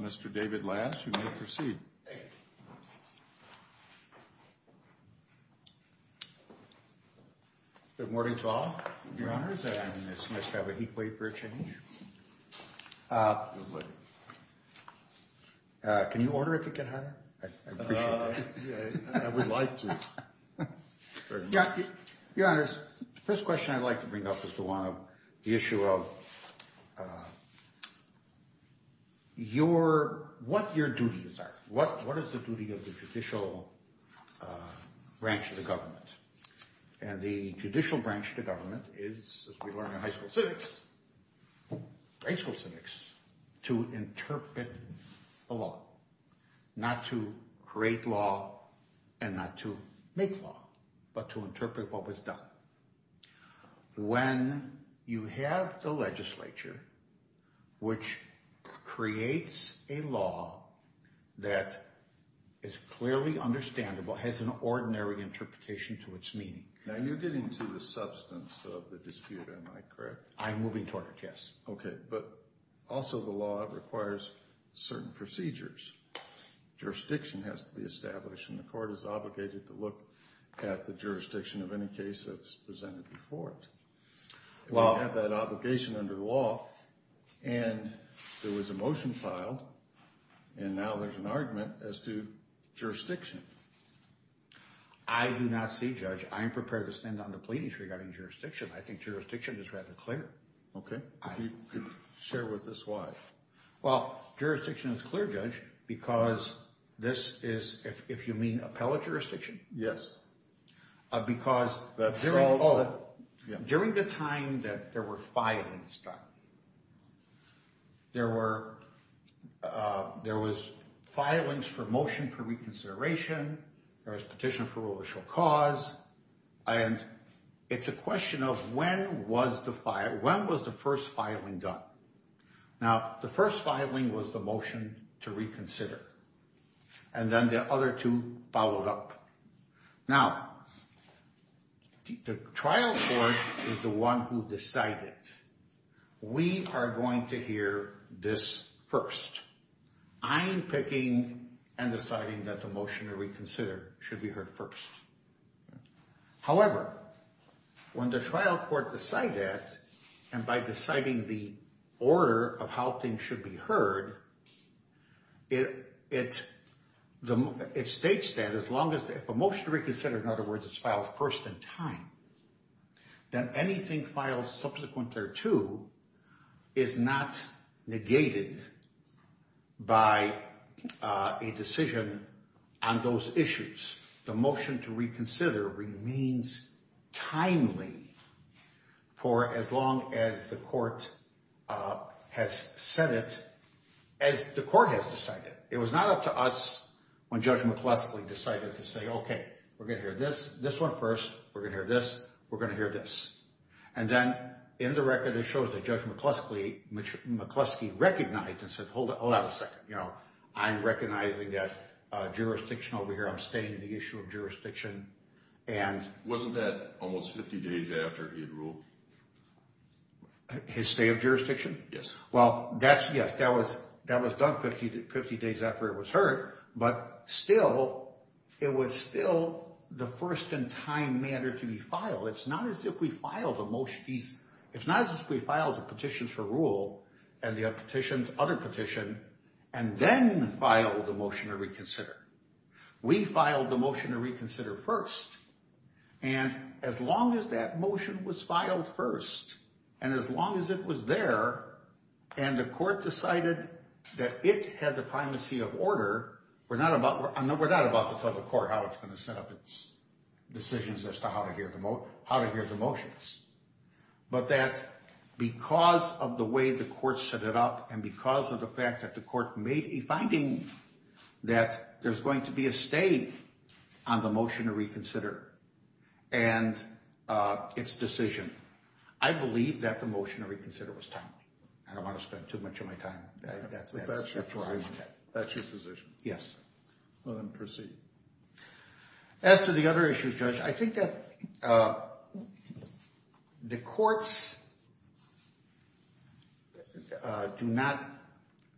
Mr. David Laz, you may proceed. Good morning to all, Your Honors, and it's nice to have a heatwave for a change. Can you order if you can, Honor? I appreciate that. I would like to. Your Honors, the first question I'd like to bring up is the one of the issue of what your duties are. What is the duty of the judicial branch of the government? And the judicial branch of the government is, as we learned in high school civics, high school civics, to interpret the law. Not to create law and not to make law, but to interpret what was done. When you have the legislature, which creates a law that is clearly understandable, has an ordinary interpretation to its meaning. Now, you're getting to the substance of the dispute, am I correct? I'm moving toward it, yes. Okay, but also the law requires certain procedures. Jurisdiction has to be established, and the court is obligated to look at the jurisdiction of any case that's presented before it. If you have that obligation under the law, and there was a motion filed, and now there's an argument as to jurisdiction. I do not see, Judge. I am prepared to stand on the pleading regarding jurisdiction. I think jurisdiction is rather clear. Okay, if you could share with us why. Well, jurisdiction is clear, Judge, because this is, if you mean appellate jurisdiction. Yes. Because during the time that there were filings done, there was filings for motion for reconsideration. There was petition for religious cause, and it's a question of when was the first filing done? Now, the first filing was the motion to reconsider, and then the other two followed up. Now, the trial court is the one who decided. We are going to hear this first. I'm picking and deciding that the motion to reconsider should be heard first. However, when the trial court decides that, and by deciding the order of how things should be heard, it states that as long as the motion to reconsider, in other words, is filed first in time, then anything filed subsequent thereto is not negated by a decision on those issues. The motion to reconsider remains timely for as long as the court has said it, as the court has decided. It was not up to us when Judge McCluskey decided to say, okay, we're going to hear this, this one first. We're going to hear this. We're going to hear this. And then in the record, it shows that Judge McCluskey recognized and said, hold on a second. I'm recognizing that jurisdiction over here. I'm staying on the issue of jurisdiction. And wasn't that almost 50 days after he had ruled? His stay of jurisdiction? Yes. Well, yes, that was done 50 days after it was heard. But still, it was still the first in time manner to be filed. It's not as if we filed a motion. It's not as if we filed the petitions for rule and the petitions, other petition, and then filed the motion to reconsider. We filed the motion to reconsider first. And as long as that motion was filed first, and as long as it was there, and the court decided that it had the primacy of order, we're not about to tell the court how it's going to set up its decisions as to how to hear the motions. But that because of the way the court set it up and because of the fact that the court made a finding that there's going to be a stay on the motion to reconsider and its decision, I believe that the motion to reconsider was timely. I don't want to spend too much of my time. That's your position? That's your position. Yes. Well, then proceed. As to the other issue, Judge, I think that the courts do not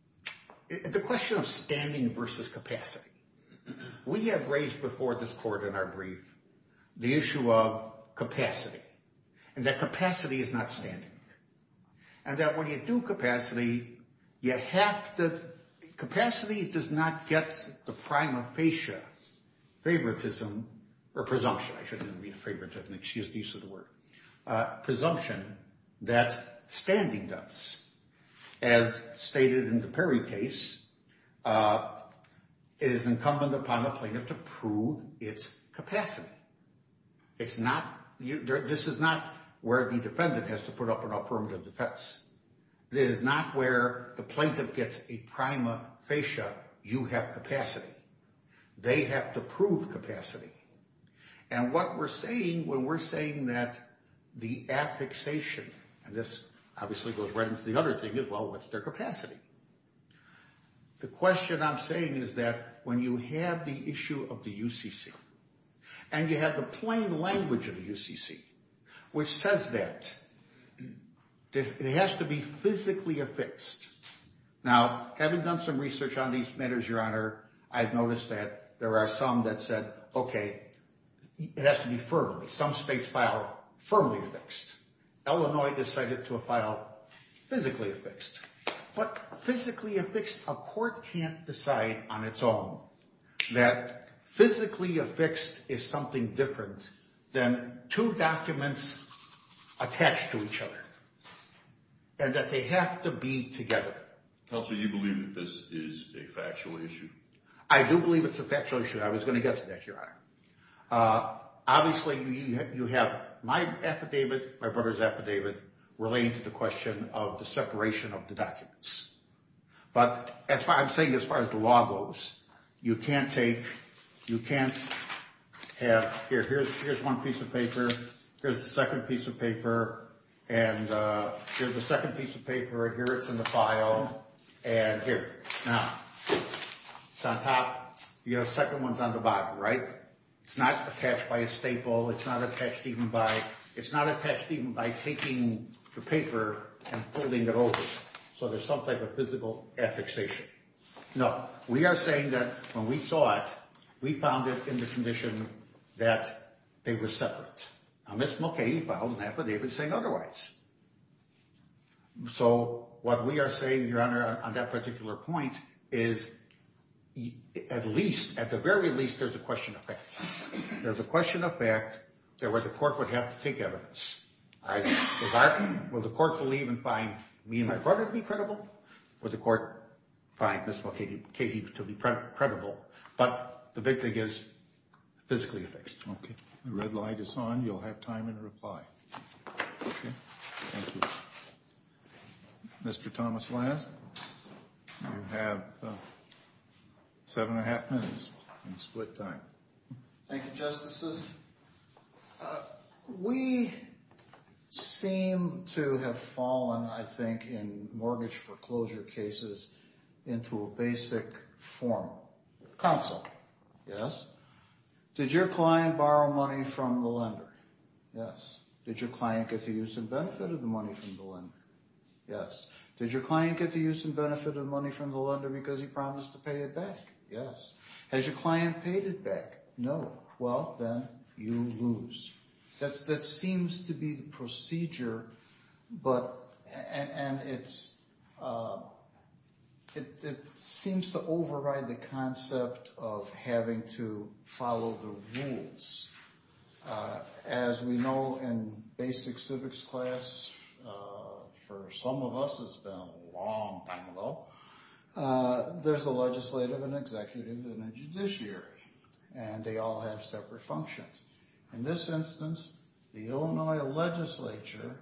– the question of standing versus capacity. We have raised before this court in our brief the issue of capacity and that capacity is not standing. And that when you do capacity, you have to – capacity does not get the prima facie favoritism or presumption. I shouldn't even read favoritism. Excuse the use of the word. Presumption that standing does. As stated in the Perry case, it is incumbent upon the plaintiff to prove its capacity. It's not – this is not where the defendant has to put up an affirmative defense. This is not where the plaintiff gets a prima facie, you have capacity. They have to prove capacity. And what we're saying when we're saying that the affixation, and this obviously goes right into the other thing as well, what's their capacity? The question I'm saying is that when you have the issue of the UCC and you have the plain language of the UCC, which says that it has to be physically affixed. Now, having done some research on these matters, Your Honor, I've noticed that there are some that said, okay, it has to be firmly. Some states file firmly affixed. Illinois decided to file physically affixed. But physically affixed, a court can't decide on its own that physically affixed is something different than two documents attached to each other and that they have to be together. Counsel, do you believe that this is a factual issue? I do believe it's a factual issue. Obviously, you have my affidavit, my brother's affidavit, relating to the question of the separation of the documents. But I'm saying as far as the law goes, you can't take, you can't have, here, here's one piece of paper, here's the second piece of paper, and here's the second piece of paper, and here it's in the file, and here. Now, it's on top. Your second one's on the bottom, right? It's not attached by a staple. It's not attached even by taking the paper and folding it over. So there's some type of physical affixation. Now, we are saying that when we saw it, we found it in the condition that they were separate. Now, Ms. Mulcahy filed an affidavit saying otherwise. So what we are saying, Your Honor, on that particular point is at least, at the very least, there's a question of fact. There's a question of fact where the court would have to take evidence. Will the court believe and find me and my brother to be credible? Will the court find Ms. Mulcahy to be credible? But the big thing is physically affixed. Okay. The red light is on. You'll have time in reply. Okay. Thank you. Mr. Thomas Lance, you have seven and a half minutes in split time. Thank you, Justices. We seem to have fallen, I think, in mortgage foreclosure cases into a basic form. Counsel, yes? Did your client borrow money from the lender? Yes. Did your client get the use and benefit of the money from the lender? Yes. Did your client get the use and benefit of the money from the lender because he promised to pay it back? Yes. Has your client paid it back? No. Well, then you lose. That seems to be the procedure, and it seems to override the concept of having to follow the rules. As we know in basic civics class, for some of us it's been a long time ago, there's a legislative and executive and a judiciary, and they all have separate functions. In this instance, the Illinois legislature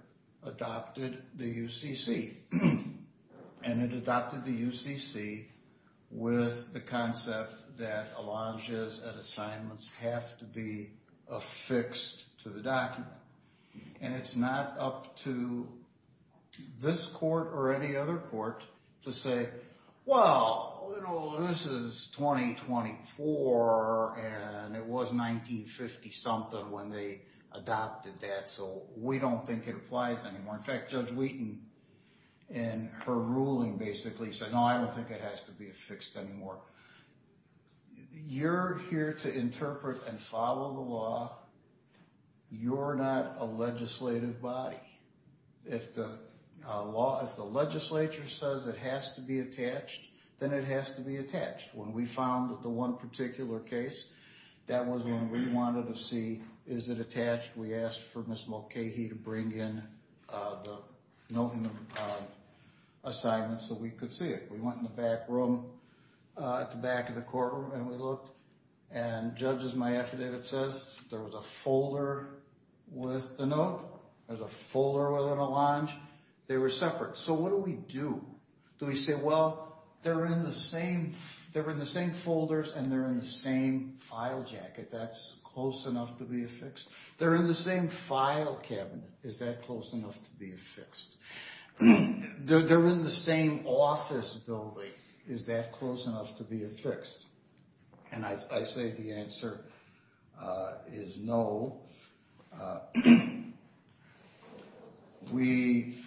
adopted the UCC, and it adopted the UCC with the concept that alleges and assignments have to be affixed to the document. And it's not up to this court or any other court to say, well, this is 2024, and it was 1950-something when they adopted that, so we don't think it applies anymore. In fact, Judge Wheaton in her ruling basically said, no, I don't think it has to be affixed anymore. You're here to interpret and follow the law. You're not a legislative body. If the legislature says it has to be attached, then it has to be attached. When we found the one particular case, that was when we wanted to see, is it attached? We asked for Ms. Mulcahy to bring in the note and the assignment so we could see it. We went in the back room at the back of the courtroom, and we looked, and Judge, as my affidavit says, there was a folder with the note. There was a folder with an allonge. They were separate. So what do we do? Do we say, well, they're in the same folders, and they're in the same file jacket. That's close enough to be affixed. They're in the same file cabinet. Is that close enough to be affixed? They're in the same office building. Is that close enough to be affixed? And I say the answer is no. We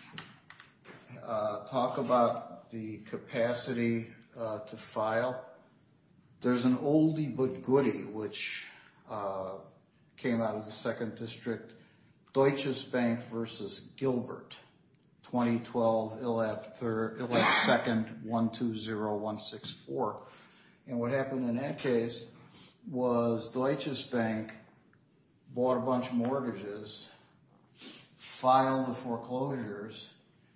talk about the capacity to file. There's an oldie but goodie, which came out of the 2nd District, Deutsches Bank v. Gilbert, 2012, Elect 2nd, 120164. And what happened in that case was Deutsches Bank bought a bunch of mortgages, filed the foreclosures,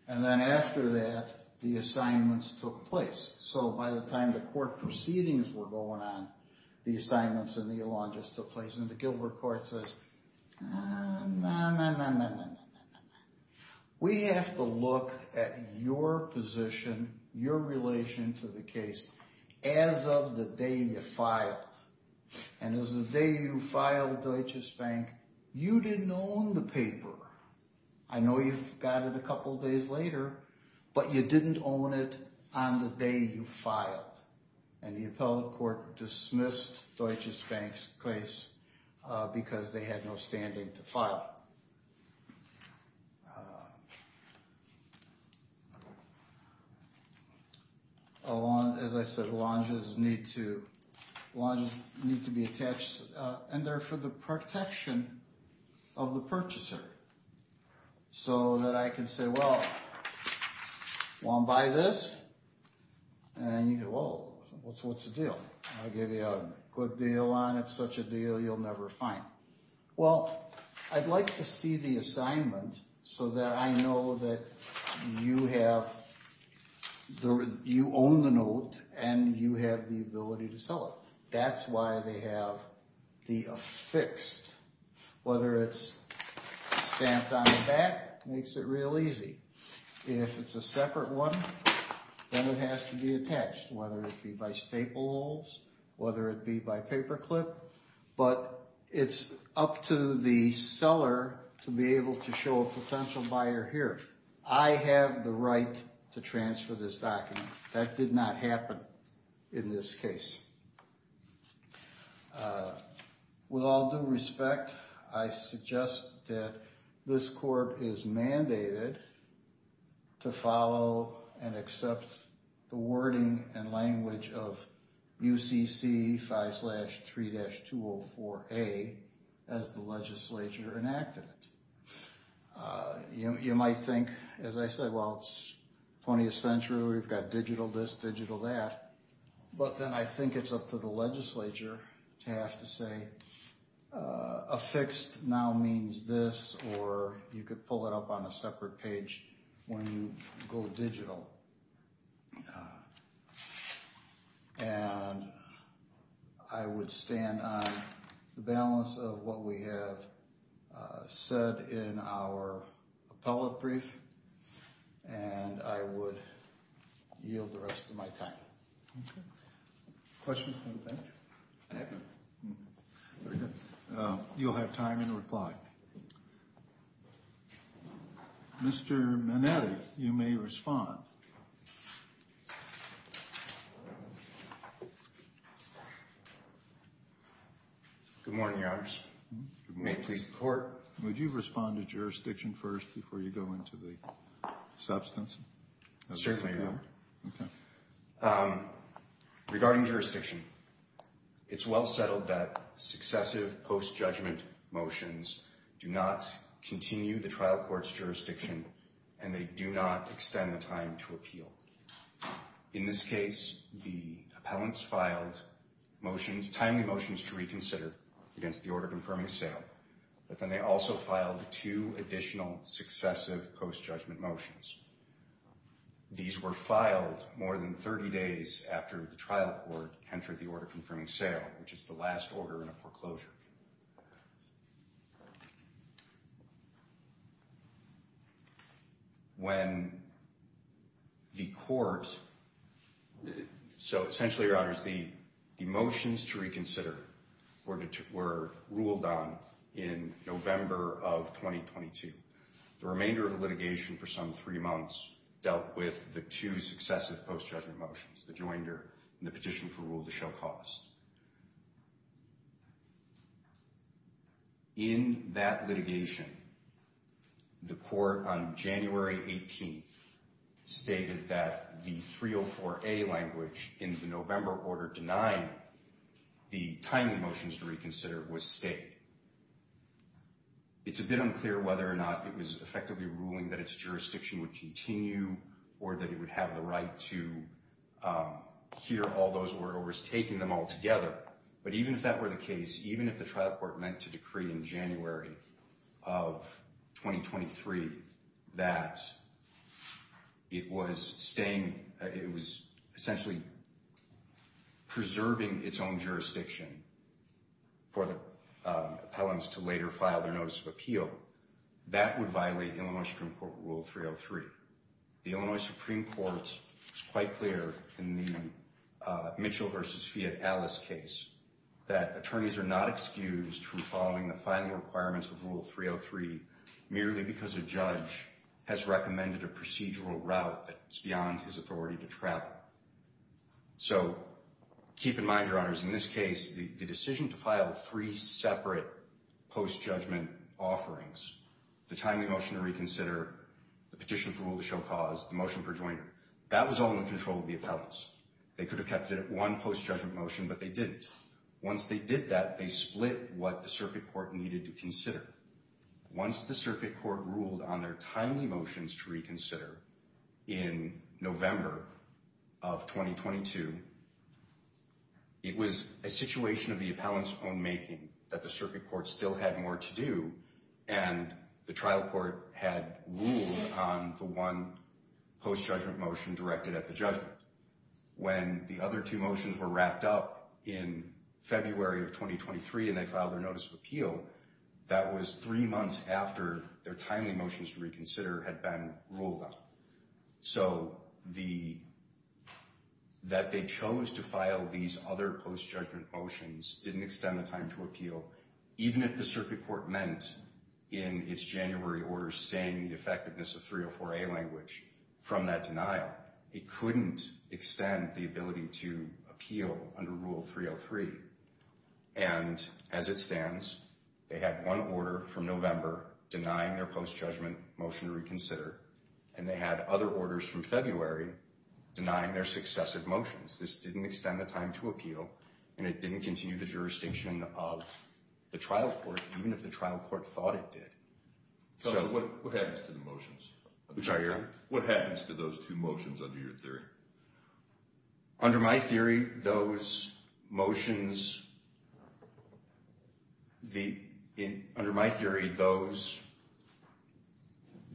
and then after that, the assignments took place. So by the time the court proceedings were going on, the assignments and the allonges took place. And the Gilbert Court says, no, no, no, no, no, no, no, no, no. We have to look at your position, your relation to the case, as of the day you filed. And as of the day you filed with Deutsches Bank, you didn't own the paper. I know you got it a couple days later, but you didn't own it on the day you filed. And the appellate court dismissed Deutsches Bank's case because they had no standing to file. Allonges, as I said, allonges need to be attached, and they're for the protection of the purchaser. So that I can say, well, want to buy this? And you go, well, what's the deal? I'll give you a good deal on it, such a deal you'll never find. Well, I'd like to see the assignment so that I know that you own the note and you have the ability to sell it. That's why they have the affixed. Whether it's stamped on the back makes it real easy. If it's a separate one, then it has to be attached, whether it be by staples, whether it be by paperclip. But it's up to the seller to be able to show a potential buyer here. I have the right to transfer this document. That did not happen in this case. With all due respect, I suggest that this court is mandated to follow and accept the wording and language of UCC 5-3-204A as the legislature enacted it. You might think, as I said, well, it's 20th century. We've got digital this, digital that. But then I think it's up to the legislature to have to say affixed now means this, or you could pull it up on a separate page when you go digital. And I would stand on the balance of what we have said in our appellate brief, and I would yield the rest of my time. Okay. Questions from the bench? I have none. Very good. You'll have time in reply. Mr. Manetti, you may respond. Good morning, Your Honors. Good morning. May it please the Court? Would you respond to jurisdiction first before you go into the substance? Certainly, Your Honor. Okay. Regarding jurisdiction, it's well settled that successive post-judgment motions do not continue the trial court's jurisdiction, and they do not extend the time to appeal. In this case, the appellants filed motions, timely motions to reconsider against the order confirming sale, but then they also filed two additional successive post-judgment motions. These were filed more than 30 days after the trial court entered the order confirming sale, which is the last order in a foreclosure. When the court — so essentially, Your Honors, the motions to reconsider were ruled on in November of 2022. The remainder of the litigation for some three months dealt with the two successive post-judgment motions, the joinder and the petition for rule to show cause. In that litigation, the court on January 18th stated that the 304A language in the November order denying the timely motions to reconsider was stayed. It's a bit unclear whether or not it was effectively ruling that its jurisdiction would continue or that it would have the right to hear all those word overs, taking them all together. But even if that were the case, even if the trial court meant to decree in January of 2023 that it was staying — it was essentially preserving its own jurisdiction for the appellants to later file their notice of appeal, that would violate Illinois Supreme Court Rule 303. The Illinois Supreme Court was quite clear in the Mitchell v. Fiat-Allis case that attorneys are not excused from following the final requirements of Rule 303 merely because a judge has recommended a procedural route that's beyond his authority to travel. So keep in mind, Your Honors, in this case, the decision to file three separate post-judgment offerings — the timely motion to reconsider, the petition for rule to show cause, the motion for joinder — that was all in control of the appellants. They could have kept it at one post-judgment motion, but they didn't. Once they did that, they split what the circuit court needed to consider. Once the circuit court ruled on their timely motions to reconsider in November of 2022, it was a situation of the appellant's own making that the circuit court still had more to do, and the trial court had ruled on the one post-judgment motion directed at the judgment. When the other two motions were wrapped up in February of 2023 and they filed their notice of appeal, that was three months after their timely motions to reconsider had been ruled on. So that they chose to file these other post-judgment motions didn't extend the time to appeal, even if the circuit court meant, in its January order, staying in the effectiveness of 304A language from that denial. It couldn't extend the ability to appeal under Rule 303. And as it stands, they had one order from November denying their post-judgment motion to reconsider, and they had other orders from February denying their successive motions. This didn't extend the time to appeal, and it didn't continue the jurisdiction of the trial court, even if the trial court thought it did. So what happens to the motions? I'm sorry, your honor? What happens to those two motions under your theory? Under my theory, those motions, the, under my theory, those,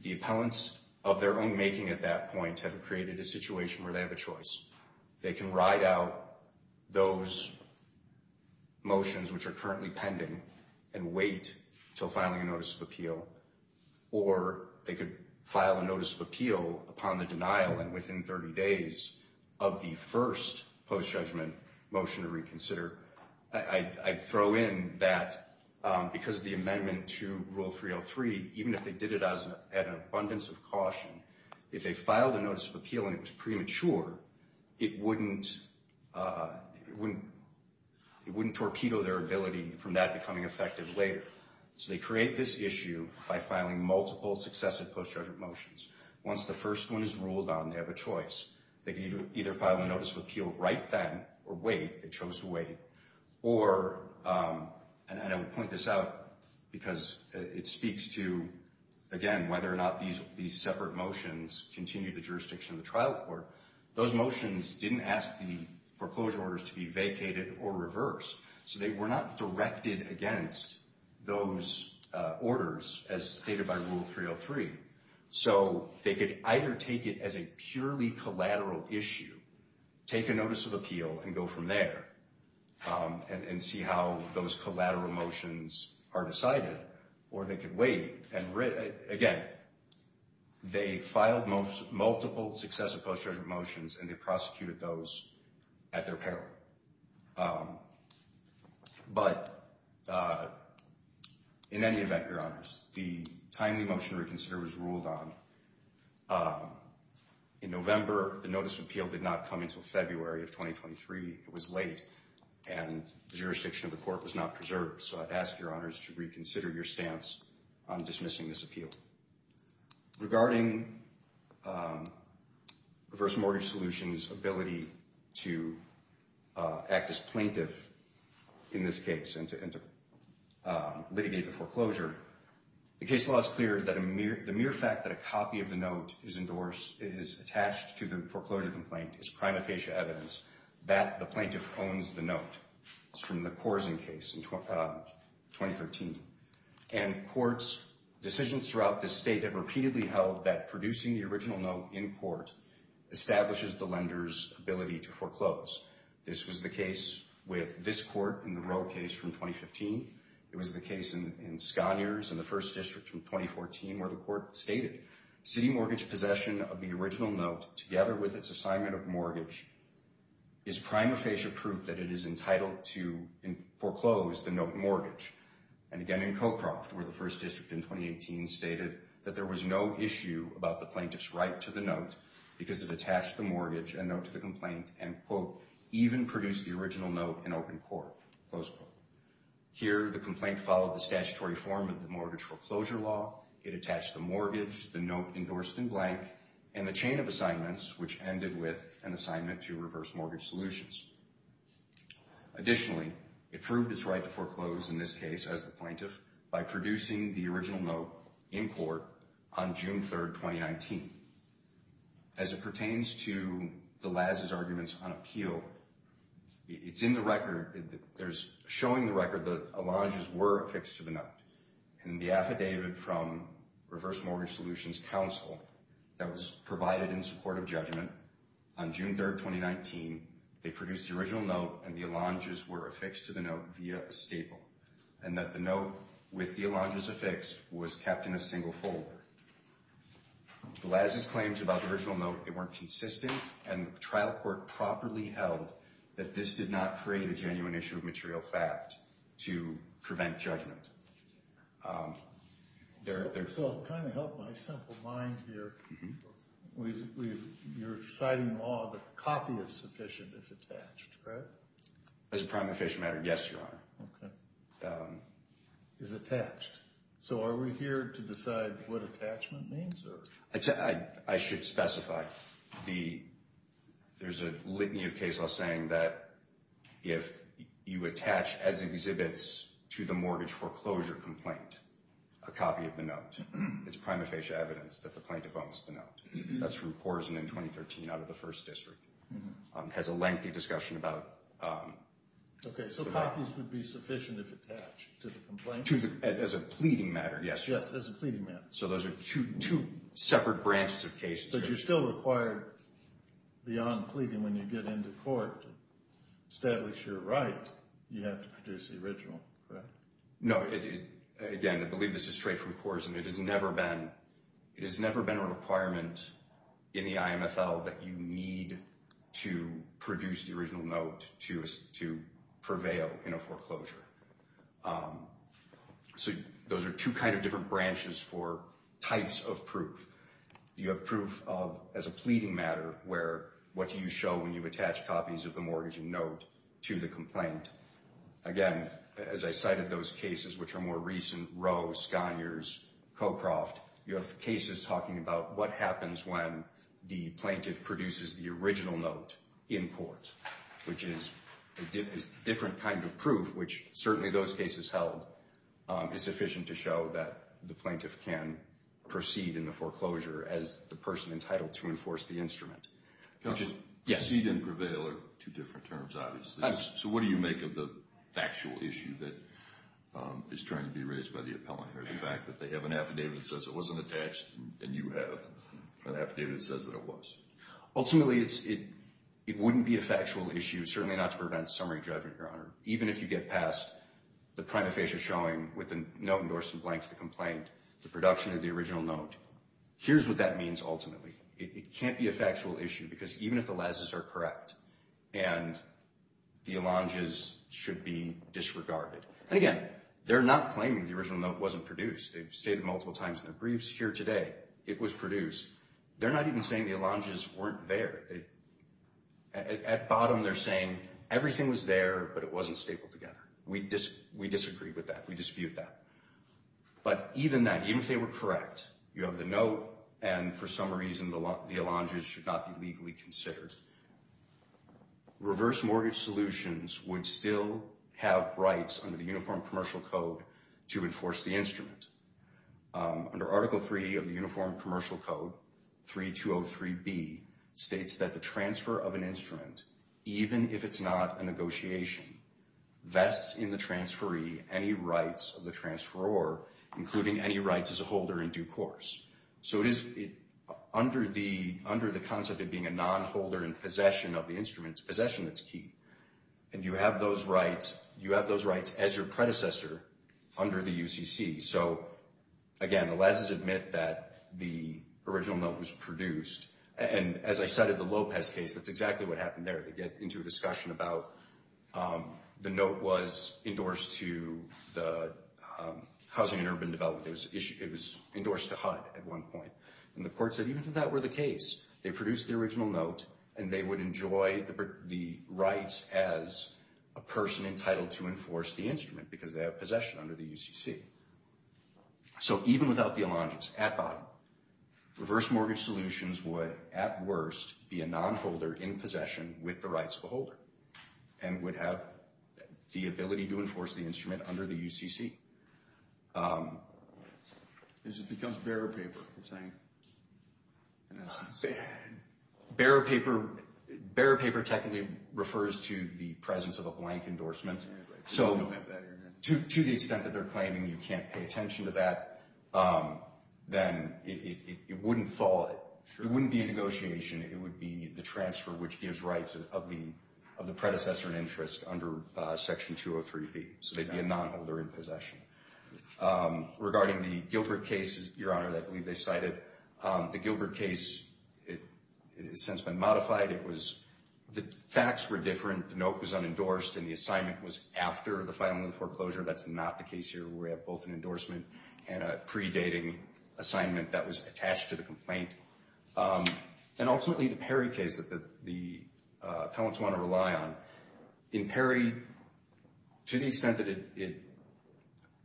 the appellants of their own making at that point have created a situation where they have a choice. They can ride out those motions which are currently pending and wait until filing a notice of appeal, or they could file a notice of appeal upon the denial and within 30 days of the first post-judgment motion to reconsider. I throw in that because of the amendment to Rule 303, even if they did it as an abundance of caution, if they filed a notice of appeal and it was premature, it wouldn't, it wouldn't, it wouldn't torpedo their ability from that becoming effective later. So they create this issue by filing multiple successive post-judgment motions. Once the first one is ruled on, they have a choice. They can either file a notice of appeal right then or wait. They chose to wait. Or, and I would point this out because it speaks to, again, whether or not these separate motions continue the jurisdiction of the trial court. Those motions didn't ask the foreclosure orders to be vacated or reversed. So they were not directed against those orders as stated by Rule 303. So they could either take it as a purely collateral issue, take a notice of appeal and go from there and see how those collateral motions are decided, or they could wait. And again, they filed multiple successive post-judgment motions and they prosecuted those at their peril. But in any event, Your Honors, the timely motion to reconsider was ruled on. In November, the notice of appeal did not come until February of 2023. It was late and the jurisdiction of the court was not preserved. So I'd ask Your Honors to reconsider your stance on dismissing this appeal. Regarding Reverse Mortgage Solutions' ability to act as plaintiff in this case and to litigate the foreclosure, the case law is clear that the mere fact that a copy of the note is endorsed, is attached to the foreclosure complaint, is prima facie evidence that the plaintiff owns the note. This is from the Korsen case in 2013. And courts' decisions throughout this state have repeatedly held that producing the original note in court establishes the lender's ability to foreclose. This was the case with this court in the Roe case from 2015. It was the case in Scaniers in the First District from 2014 where the court stated, City mortgage possession of the original note, together with its assignment of mortgage, is prima facie proof that it is entitled to foreclose the note mortgage. And again in Cochroft, where the First District in 2018 stated that there was no issue about the plaintiff's right to the note because it attached the mortgage and note to the complaint and, quote, even produced the original note in open court, close quote. Here, the complaint followed the statutory form of the mortgage foreclosure law. It attached the mortgage, the note endorsed in blank, and the chain of assignments, which ended with an assignment to reverse mortgage solutions. Additionally, it proved its right to foreclose in this case, as the plaintiff, by producing the original note in court on June 3rd, 2019. As it pertains to the Laz's arguments on appeal, it's in the record, there's showing the record that Alanges were affixed to the note. In the affidavit from Reverse Mortgage Solutions Council that was provided in support of judgment, on June 3rd, 2019, they produced the original note and the Alanges were affixed to the note via a staple, and that the note with the Alanges affixed was kept in a single folder. The Laz's claims about the original note, they weren't consistent, and the trial court properly held that this did not create a genuine issue of material fact to prevent judgment. So it kind of helped my simple mind here. You're citing law that copy is sufficient if attached, correct? As a prime official matter, yes, Your Honor. Okay. Is attached. So are we here to decide what attachment means? I should specify. There's a litany of case law saying that if you attach as exhibits to the mortgage foreclosure complaint, a copy of the note, it's prima facie evidence that the plaintiff owns the note. That's from Korsen in 2013 out of the First District. It has a lengthy discussion about... Okay, so copies would be sufficient if attached to the complaint? As a pleading matter, yes, Your Honor. Yes, as a pleading matter. So those are two separate branches of cases. But you're still required beyond pleading when you get into court to establish your right, you have to produce the original, correct? No. Again, I believe this is straight from Korsen. It has never been a requirement in the IMFL that you need to produce the original note to prevail in a foreclosure. So those are two kind of different branches for types of proof. You have proof of, as a pleading matter, where what do you show when you attach copies of the mortgage and note to the complaint? Again, as I cited those cases which are more recent, Roe, Scogner's, Cocroft, you have cases talking about what happens when the plaintiff produces the original note in court, which is a different kind of proof, which certainly those cases held is sufficient to show that the plaintiff can proceed in the foreclosure as the person entitled to enforce the instrument. Proceed and prevail are two different terms, obviously. So what do you make of the factual issue that is trying to be raised by the appellant or the fact that they have an affidavit that says it wasn't attached and you have an affidavit that says that it was? Ultimately, it wouldn't be a factual issue, certainly not to prevent summary judgment, Your Honor. Even if you get past the prima facie showing with the note endorsed in blank to the complaint, the production of the original note, here's what that means ultimately. It can't be a factual issue because even if the lasses are correct and the allonges should be disregarded. And again, they're not claiming the original note wasn't produced. They've stated multiple times in their briefs here today it was produced. They're not even saying the allonges weren't there. At bottom, they're saying everything was there, but it wasn't stapled together. We disagree with that. We dispute that. But even that, even if they were correct, you have the note, and for some reason the allonges should not be legally considered, reverse mortgage solutions would still have rights under the Uniform Commercial Code to enforce the instrument. Under Article 3 of the Uniform Commercial Code, 3203B states that the transfer of an instrument, even if it's not a negotiation, vests in the transferee any rights of the transferor, including any rights as a holder in due course. So under the concept of being a nonholder in possession of the instrument, it's possession that's key. And you have those rights as your predecessor under the UCC. So, again, the lesses admit that the original note was produced. And as I cited the Lopez case, that's exactly what happened there. They get into a discussion about the note was endorsed to the Housing and Urban Development. It was endorsed to HUD at one point. And the court said even if that were the case, they produced the original note, and they would enjoy the rights as a person entitled to enforce the instrument because they have possession under the UCC. So even without the allonges at bottom, reverse mortgage solutions would, at worst, be a nonholder in possession with the rights of a holder and would have the ability to enforce the instrument under the UCC. As it becomes bearer paper, you're saying? Bearer paper technically refers to the presence of a blank endorsement. So to the extent that they're claiming you can't pay attention to that, then it wouldn't fall. It wouldn't be a negotiation. It would be the transfer which gives rights of the predecessor in interest under Section 203B. So they'd be a nonholder in possession. Regarding the Gilbert case, Your Honor, I believe they cited the Gilbert case. It has since been modified. The facts were different. The note was unendorsed, and the assignment was after the filing of the foreclosure. That's not the case here. We have both an endorsement and a predating assignment that was attached to the complaint. And ultimately, the Perry case that the appellants want to rely on. In Perry, to the extent that it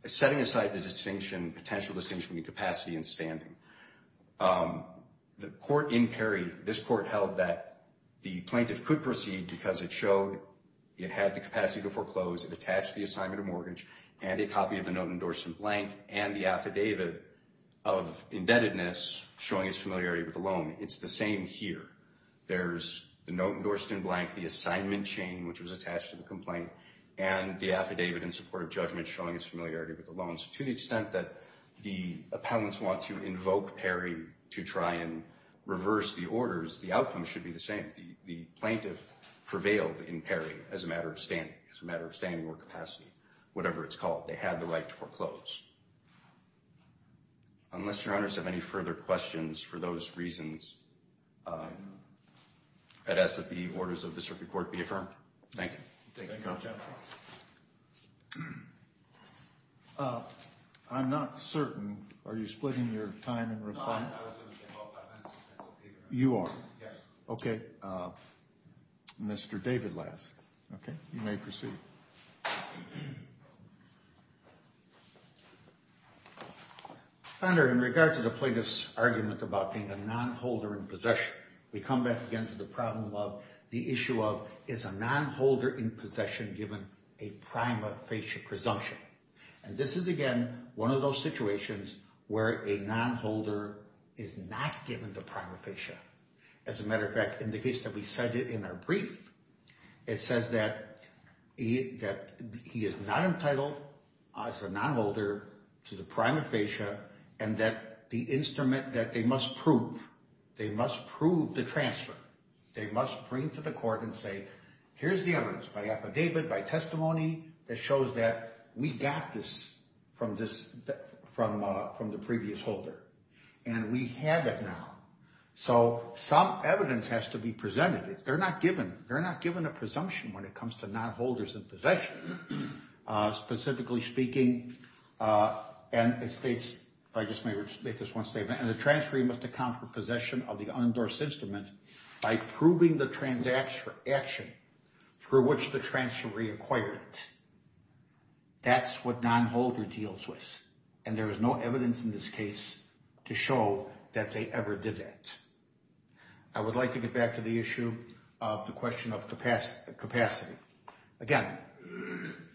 is setting aside the distinction, potential distinction between capacity and standing, the court in Perry, this court held that the plaintiff could proceed because it showed it had the capacity to foreclose. It attached the assignment of mortgage and a copy of the note endorsed in blank and the affidavit of indebtedness showing its familiarity with the loan. It's the same here. There's the note endorsed in blank, the assignment chain, which was attached to the complaint, and the affidavit in support of judgment showing its familiarity with the loan. So to the extent that the appellants want to invoke Perry to try and reverse the orders, the outcome should be the same. The plaintiff prevailed in Perry as a matter of standing, as a matter of standing or capacity, whatever it's called. They had the right to foreclose. Unless your honors have any further questions for those reasons, I'd ask that the orders of the circuit court be affirmed. Thank you. Thank you, counsel. I'm not certain. Are you splitting your time in reply? No, I was going to take all five minutes. You are? Yes. Okay. Mr. David Lask, you may proceed. Thank you. In regard to the plaintiff's argument about being a nonholder in possession, we come back again to the problem of the issue of is a nonholder in possession given a prima facie presumption? And this is, again, one of those situations where a nonholder is not given the prima facie. As a matter of fact, in the case that we cited in our brief, it says that he is not entitled as a nonholder to the prima facie and that the instrument that they must prove, they must prove the transfer. They must bring to the court and say, here's the evidence by affidavit, by testimony that shows that we got this from the previous holder. And we have it now. So some evidence has to be presented. They're not given a presumption when it comes to nonholders in possession. Specifically speaking, and it states, if I just may make this one statement, and the transferee must account for possession of the unendorsed instrument by proving the transaction for which the transferee acquired it. That's what nonholder deals with. And there is no evidence in this case to show that they ever did that. I would like to get back to the issue of the question of capacity. Again,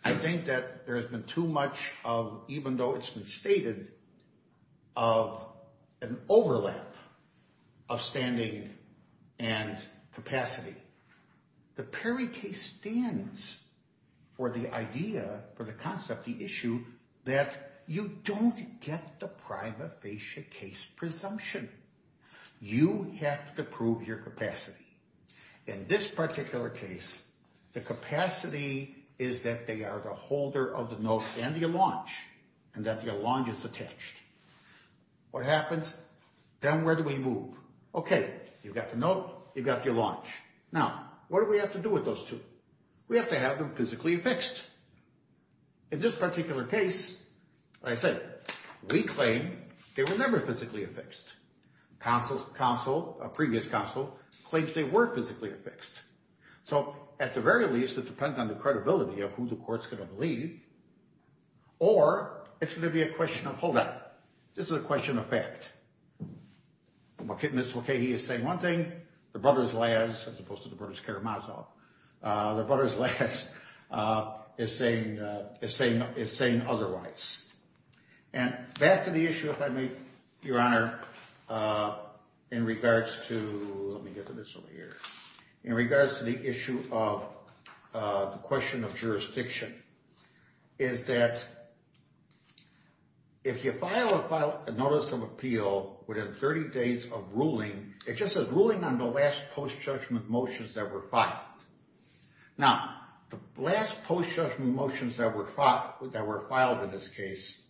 I think that there has been too much of, even though it's been stated, of an overlap of standing and capacity. The Perry case stands for the idea, for the concept, the issue, that you don't get the prima facie case presumption. You have to prove your capacity. In this particular case, the capacity is that they are the holder of the note and your launch, and that your launch is attached. What happens? Then where do we move? Okay, you've got the note, you've got your launch. Now, what do we have to do with those two? We have to have them physically affixed. In this particular case, like I said, we claim they were never physically affixed. A previous counsel claims they were physically affixed. So, at the very least, it depends on the credibility of who the court is going to believe, or it's going to be a question of, hold on, this is a question of fact. Mr. Mulcahy is saying one thing, the brothers Laz, as opposed to the brothers Karamazov, the brothers Laz is saying otherwise. And back to the issue, if I may, Your Honor, in regards to, let me get to this over here, in regards to the issue of the question of jurisdiction, is that if you file a notice of appeal within 30 days of ruling, it just says ruling on the last post-judgment motions that were filed. Now, the last post-judgment motions that were filed in this case,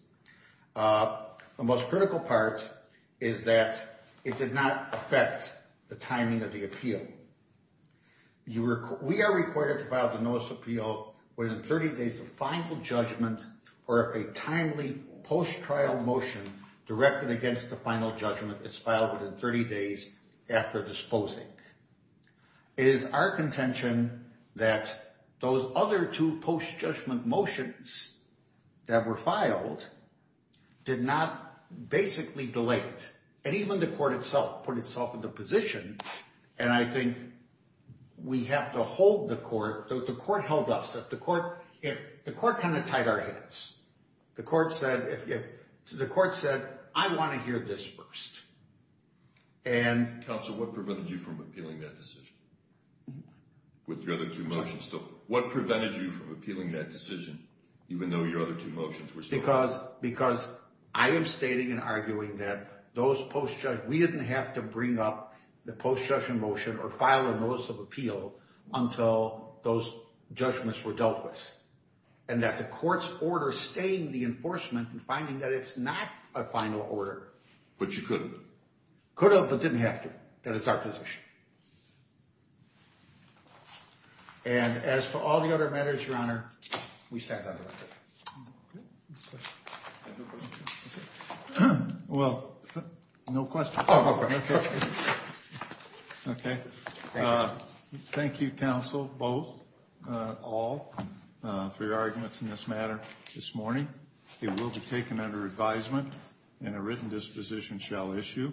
the most critical part is that it did not affect the timing of the appeal. We are required to file the notice of appeal within 30 days of final judgment, or if a timely post-trial motion directed against the final judgment is filed within 30 days after disposing. It is our contention that those other two post-judgment motions that were filed did not basically delay it. And even the court itself put itself into position, and I think we have to hold the court, the court held us, the court kind of tied our hands. The court said, I want to hear this first. Counsel, what prevented you from appealing that decision? With your other two motions still. What prevented you from appealing that decision, even though your other two motions were still? Because I am stating and arguing that those post-judge, we didn't have to bring up the post-judgment motion or file a notice of appeal until those judgments were dealt with. And that the court's order staying the enforcement and finding that it's not a final order. But you couldn't? Could have, but didn't have to. That is our position. And as for all the other matters, Your Honor, we stand adjourned. Well, no questions. Okay. Thank you, Counsel, both, all, for your arguments in this matter this morning. It will be taken under advisement and a written disposition shall issue.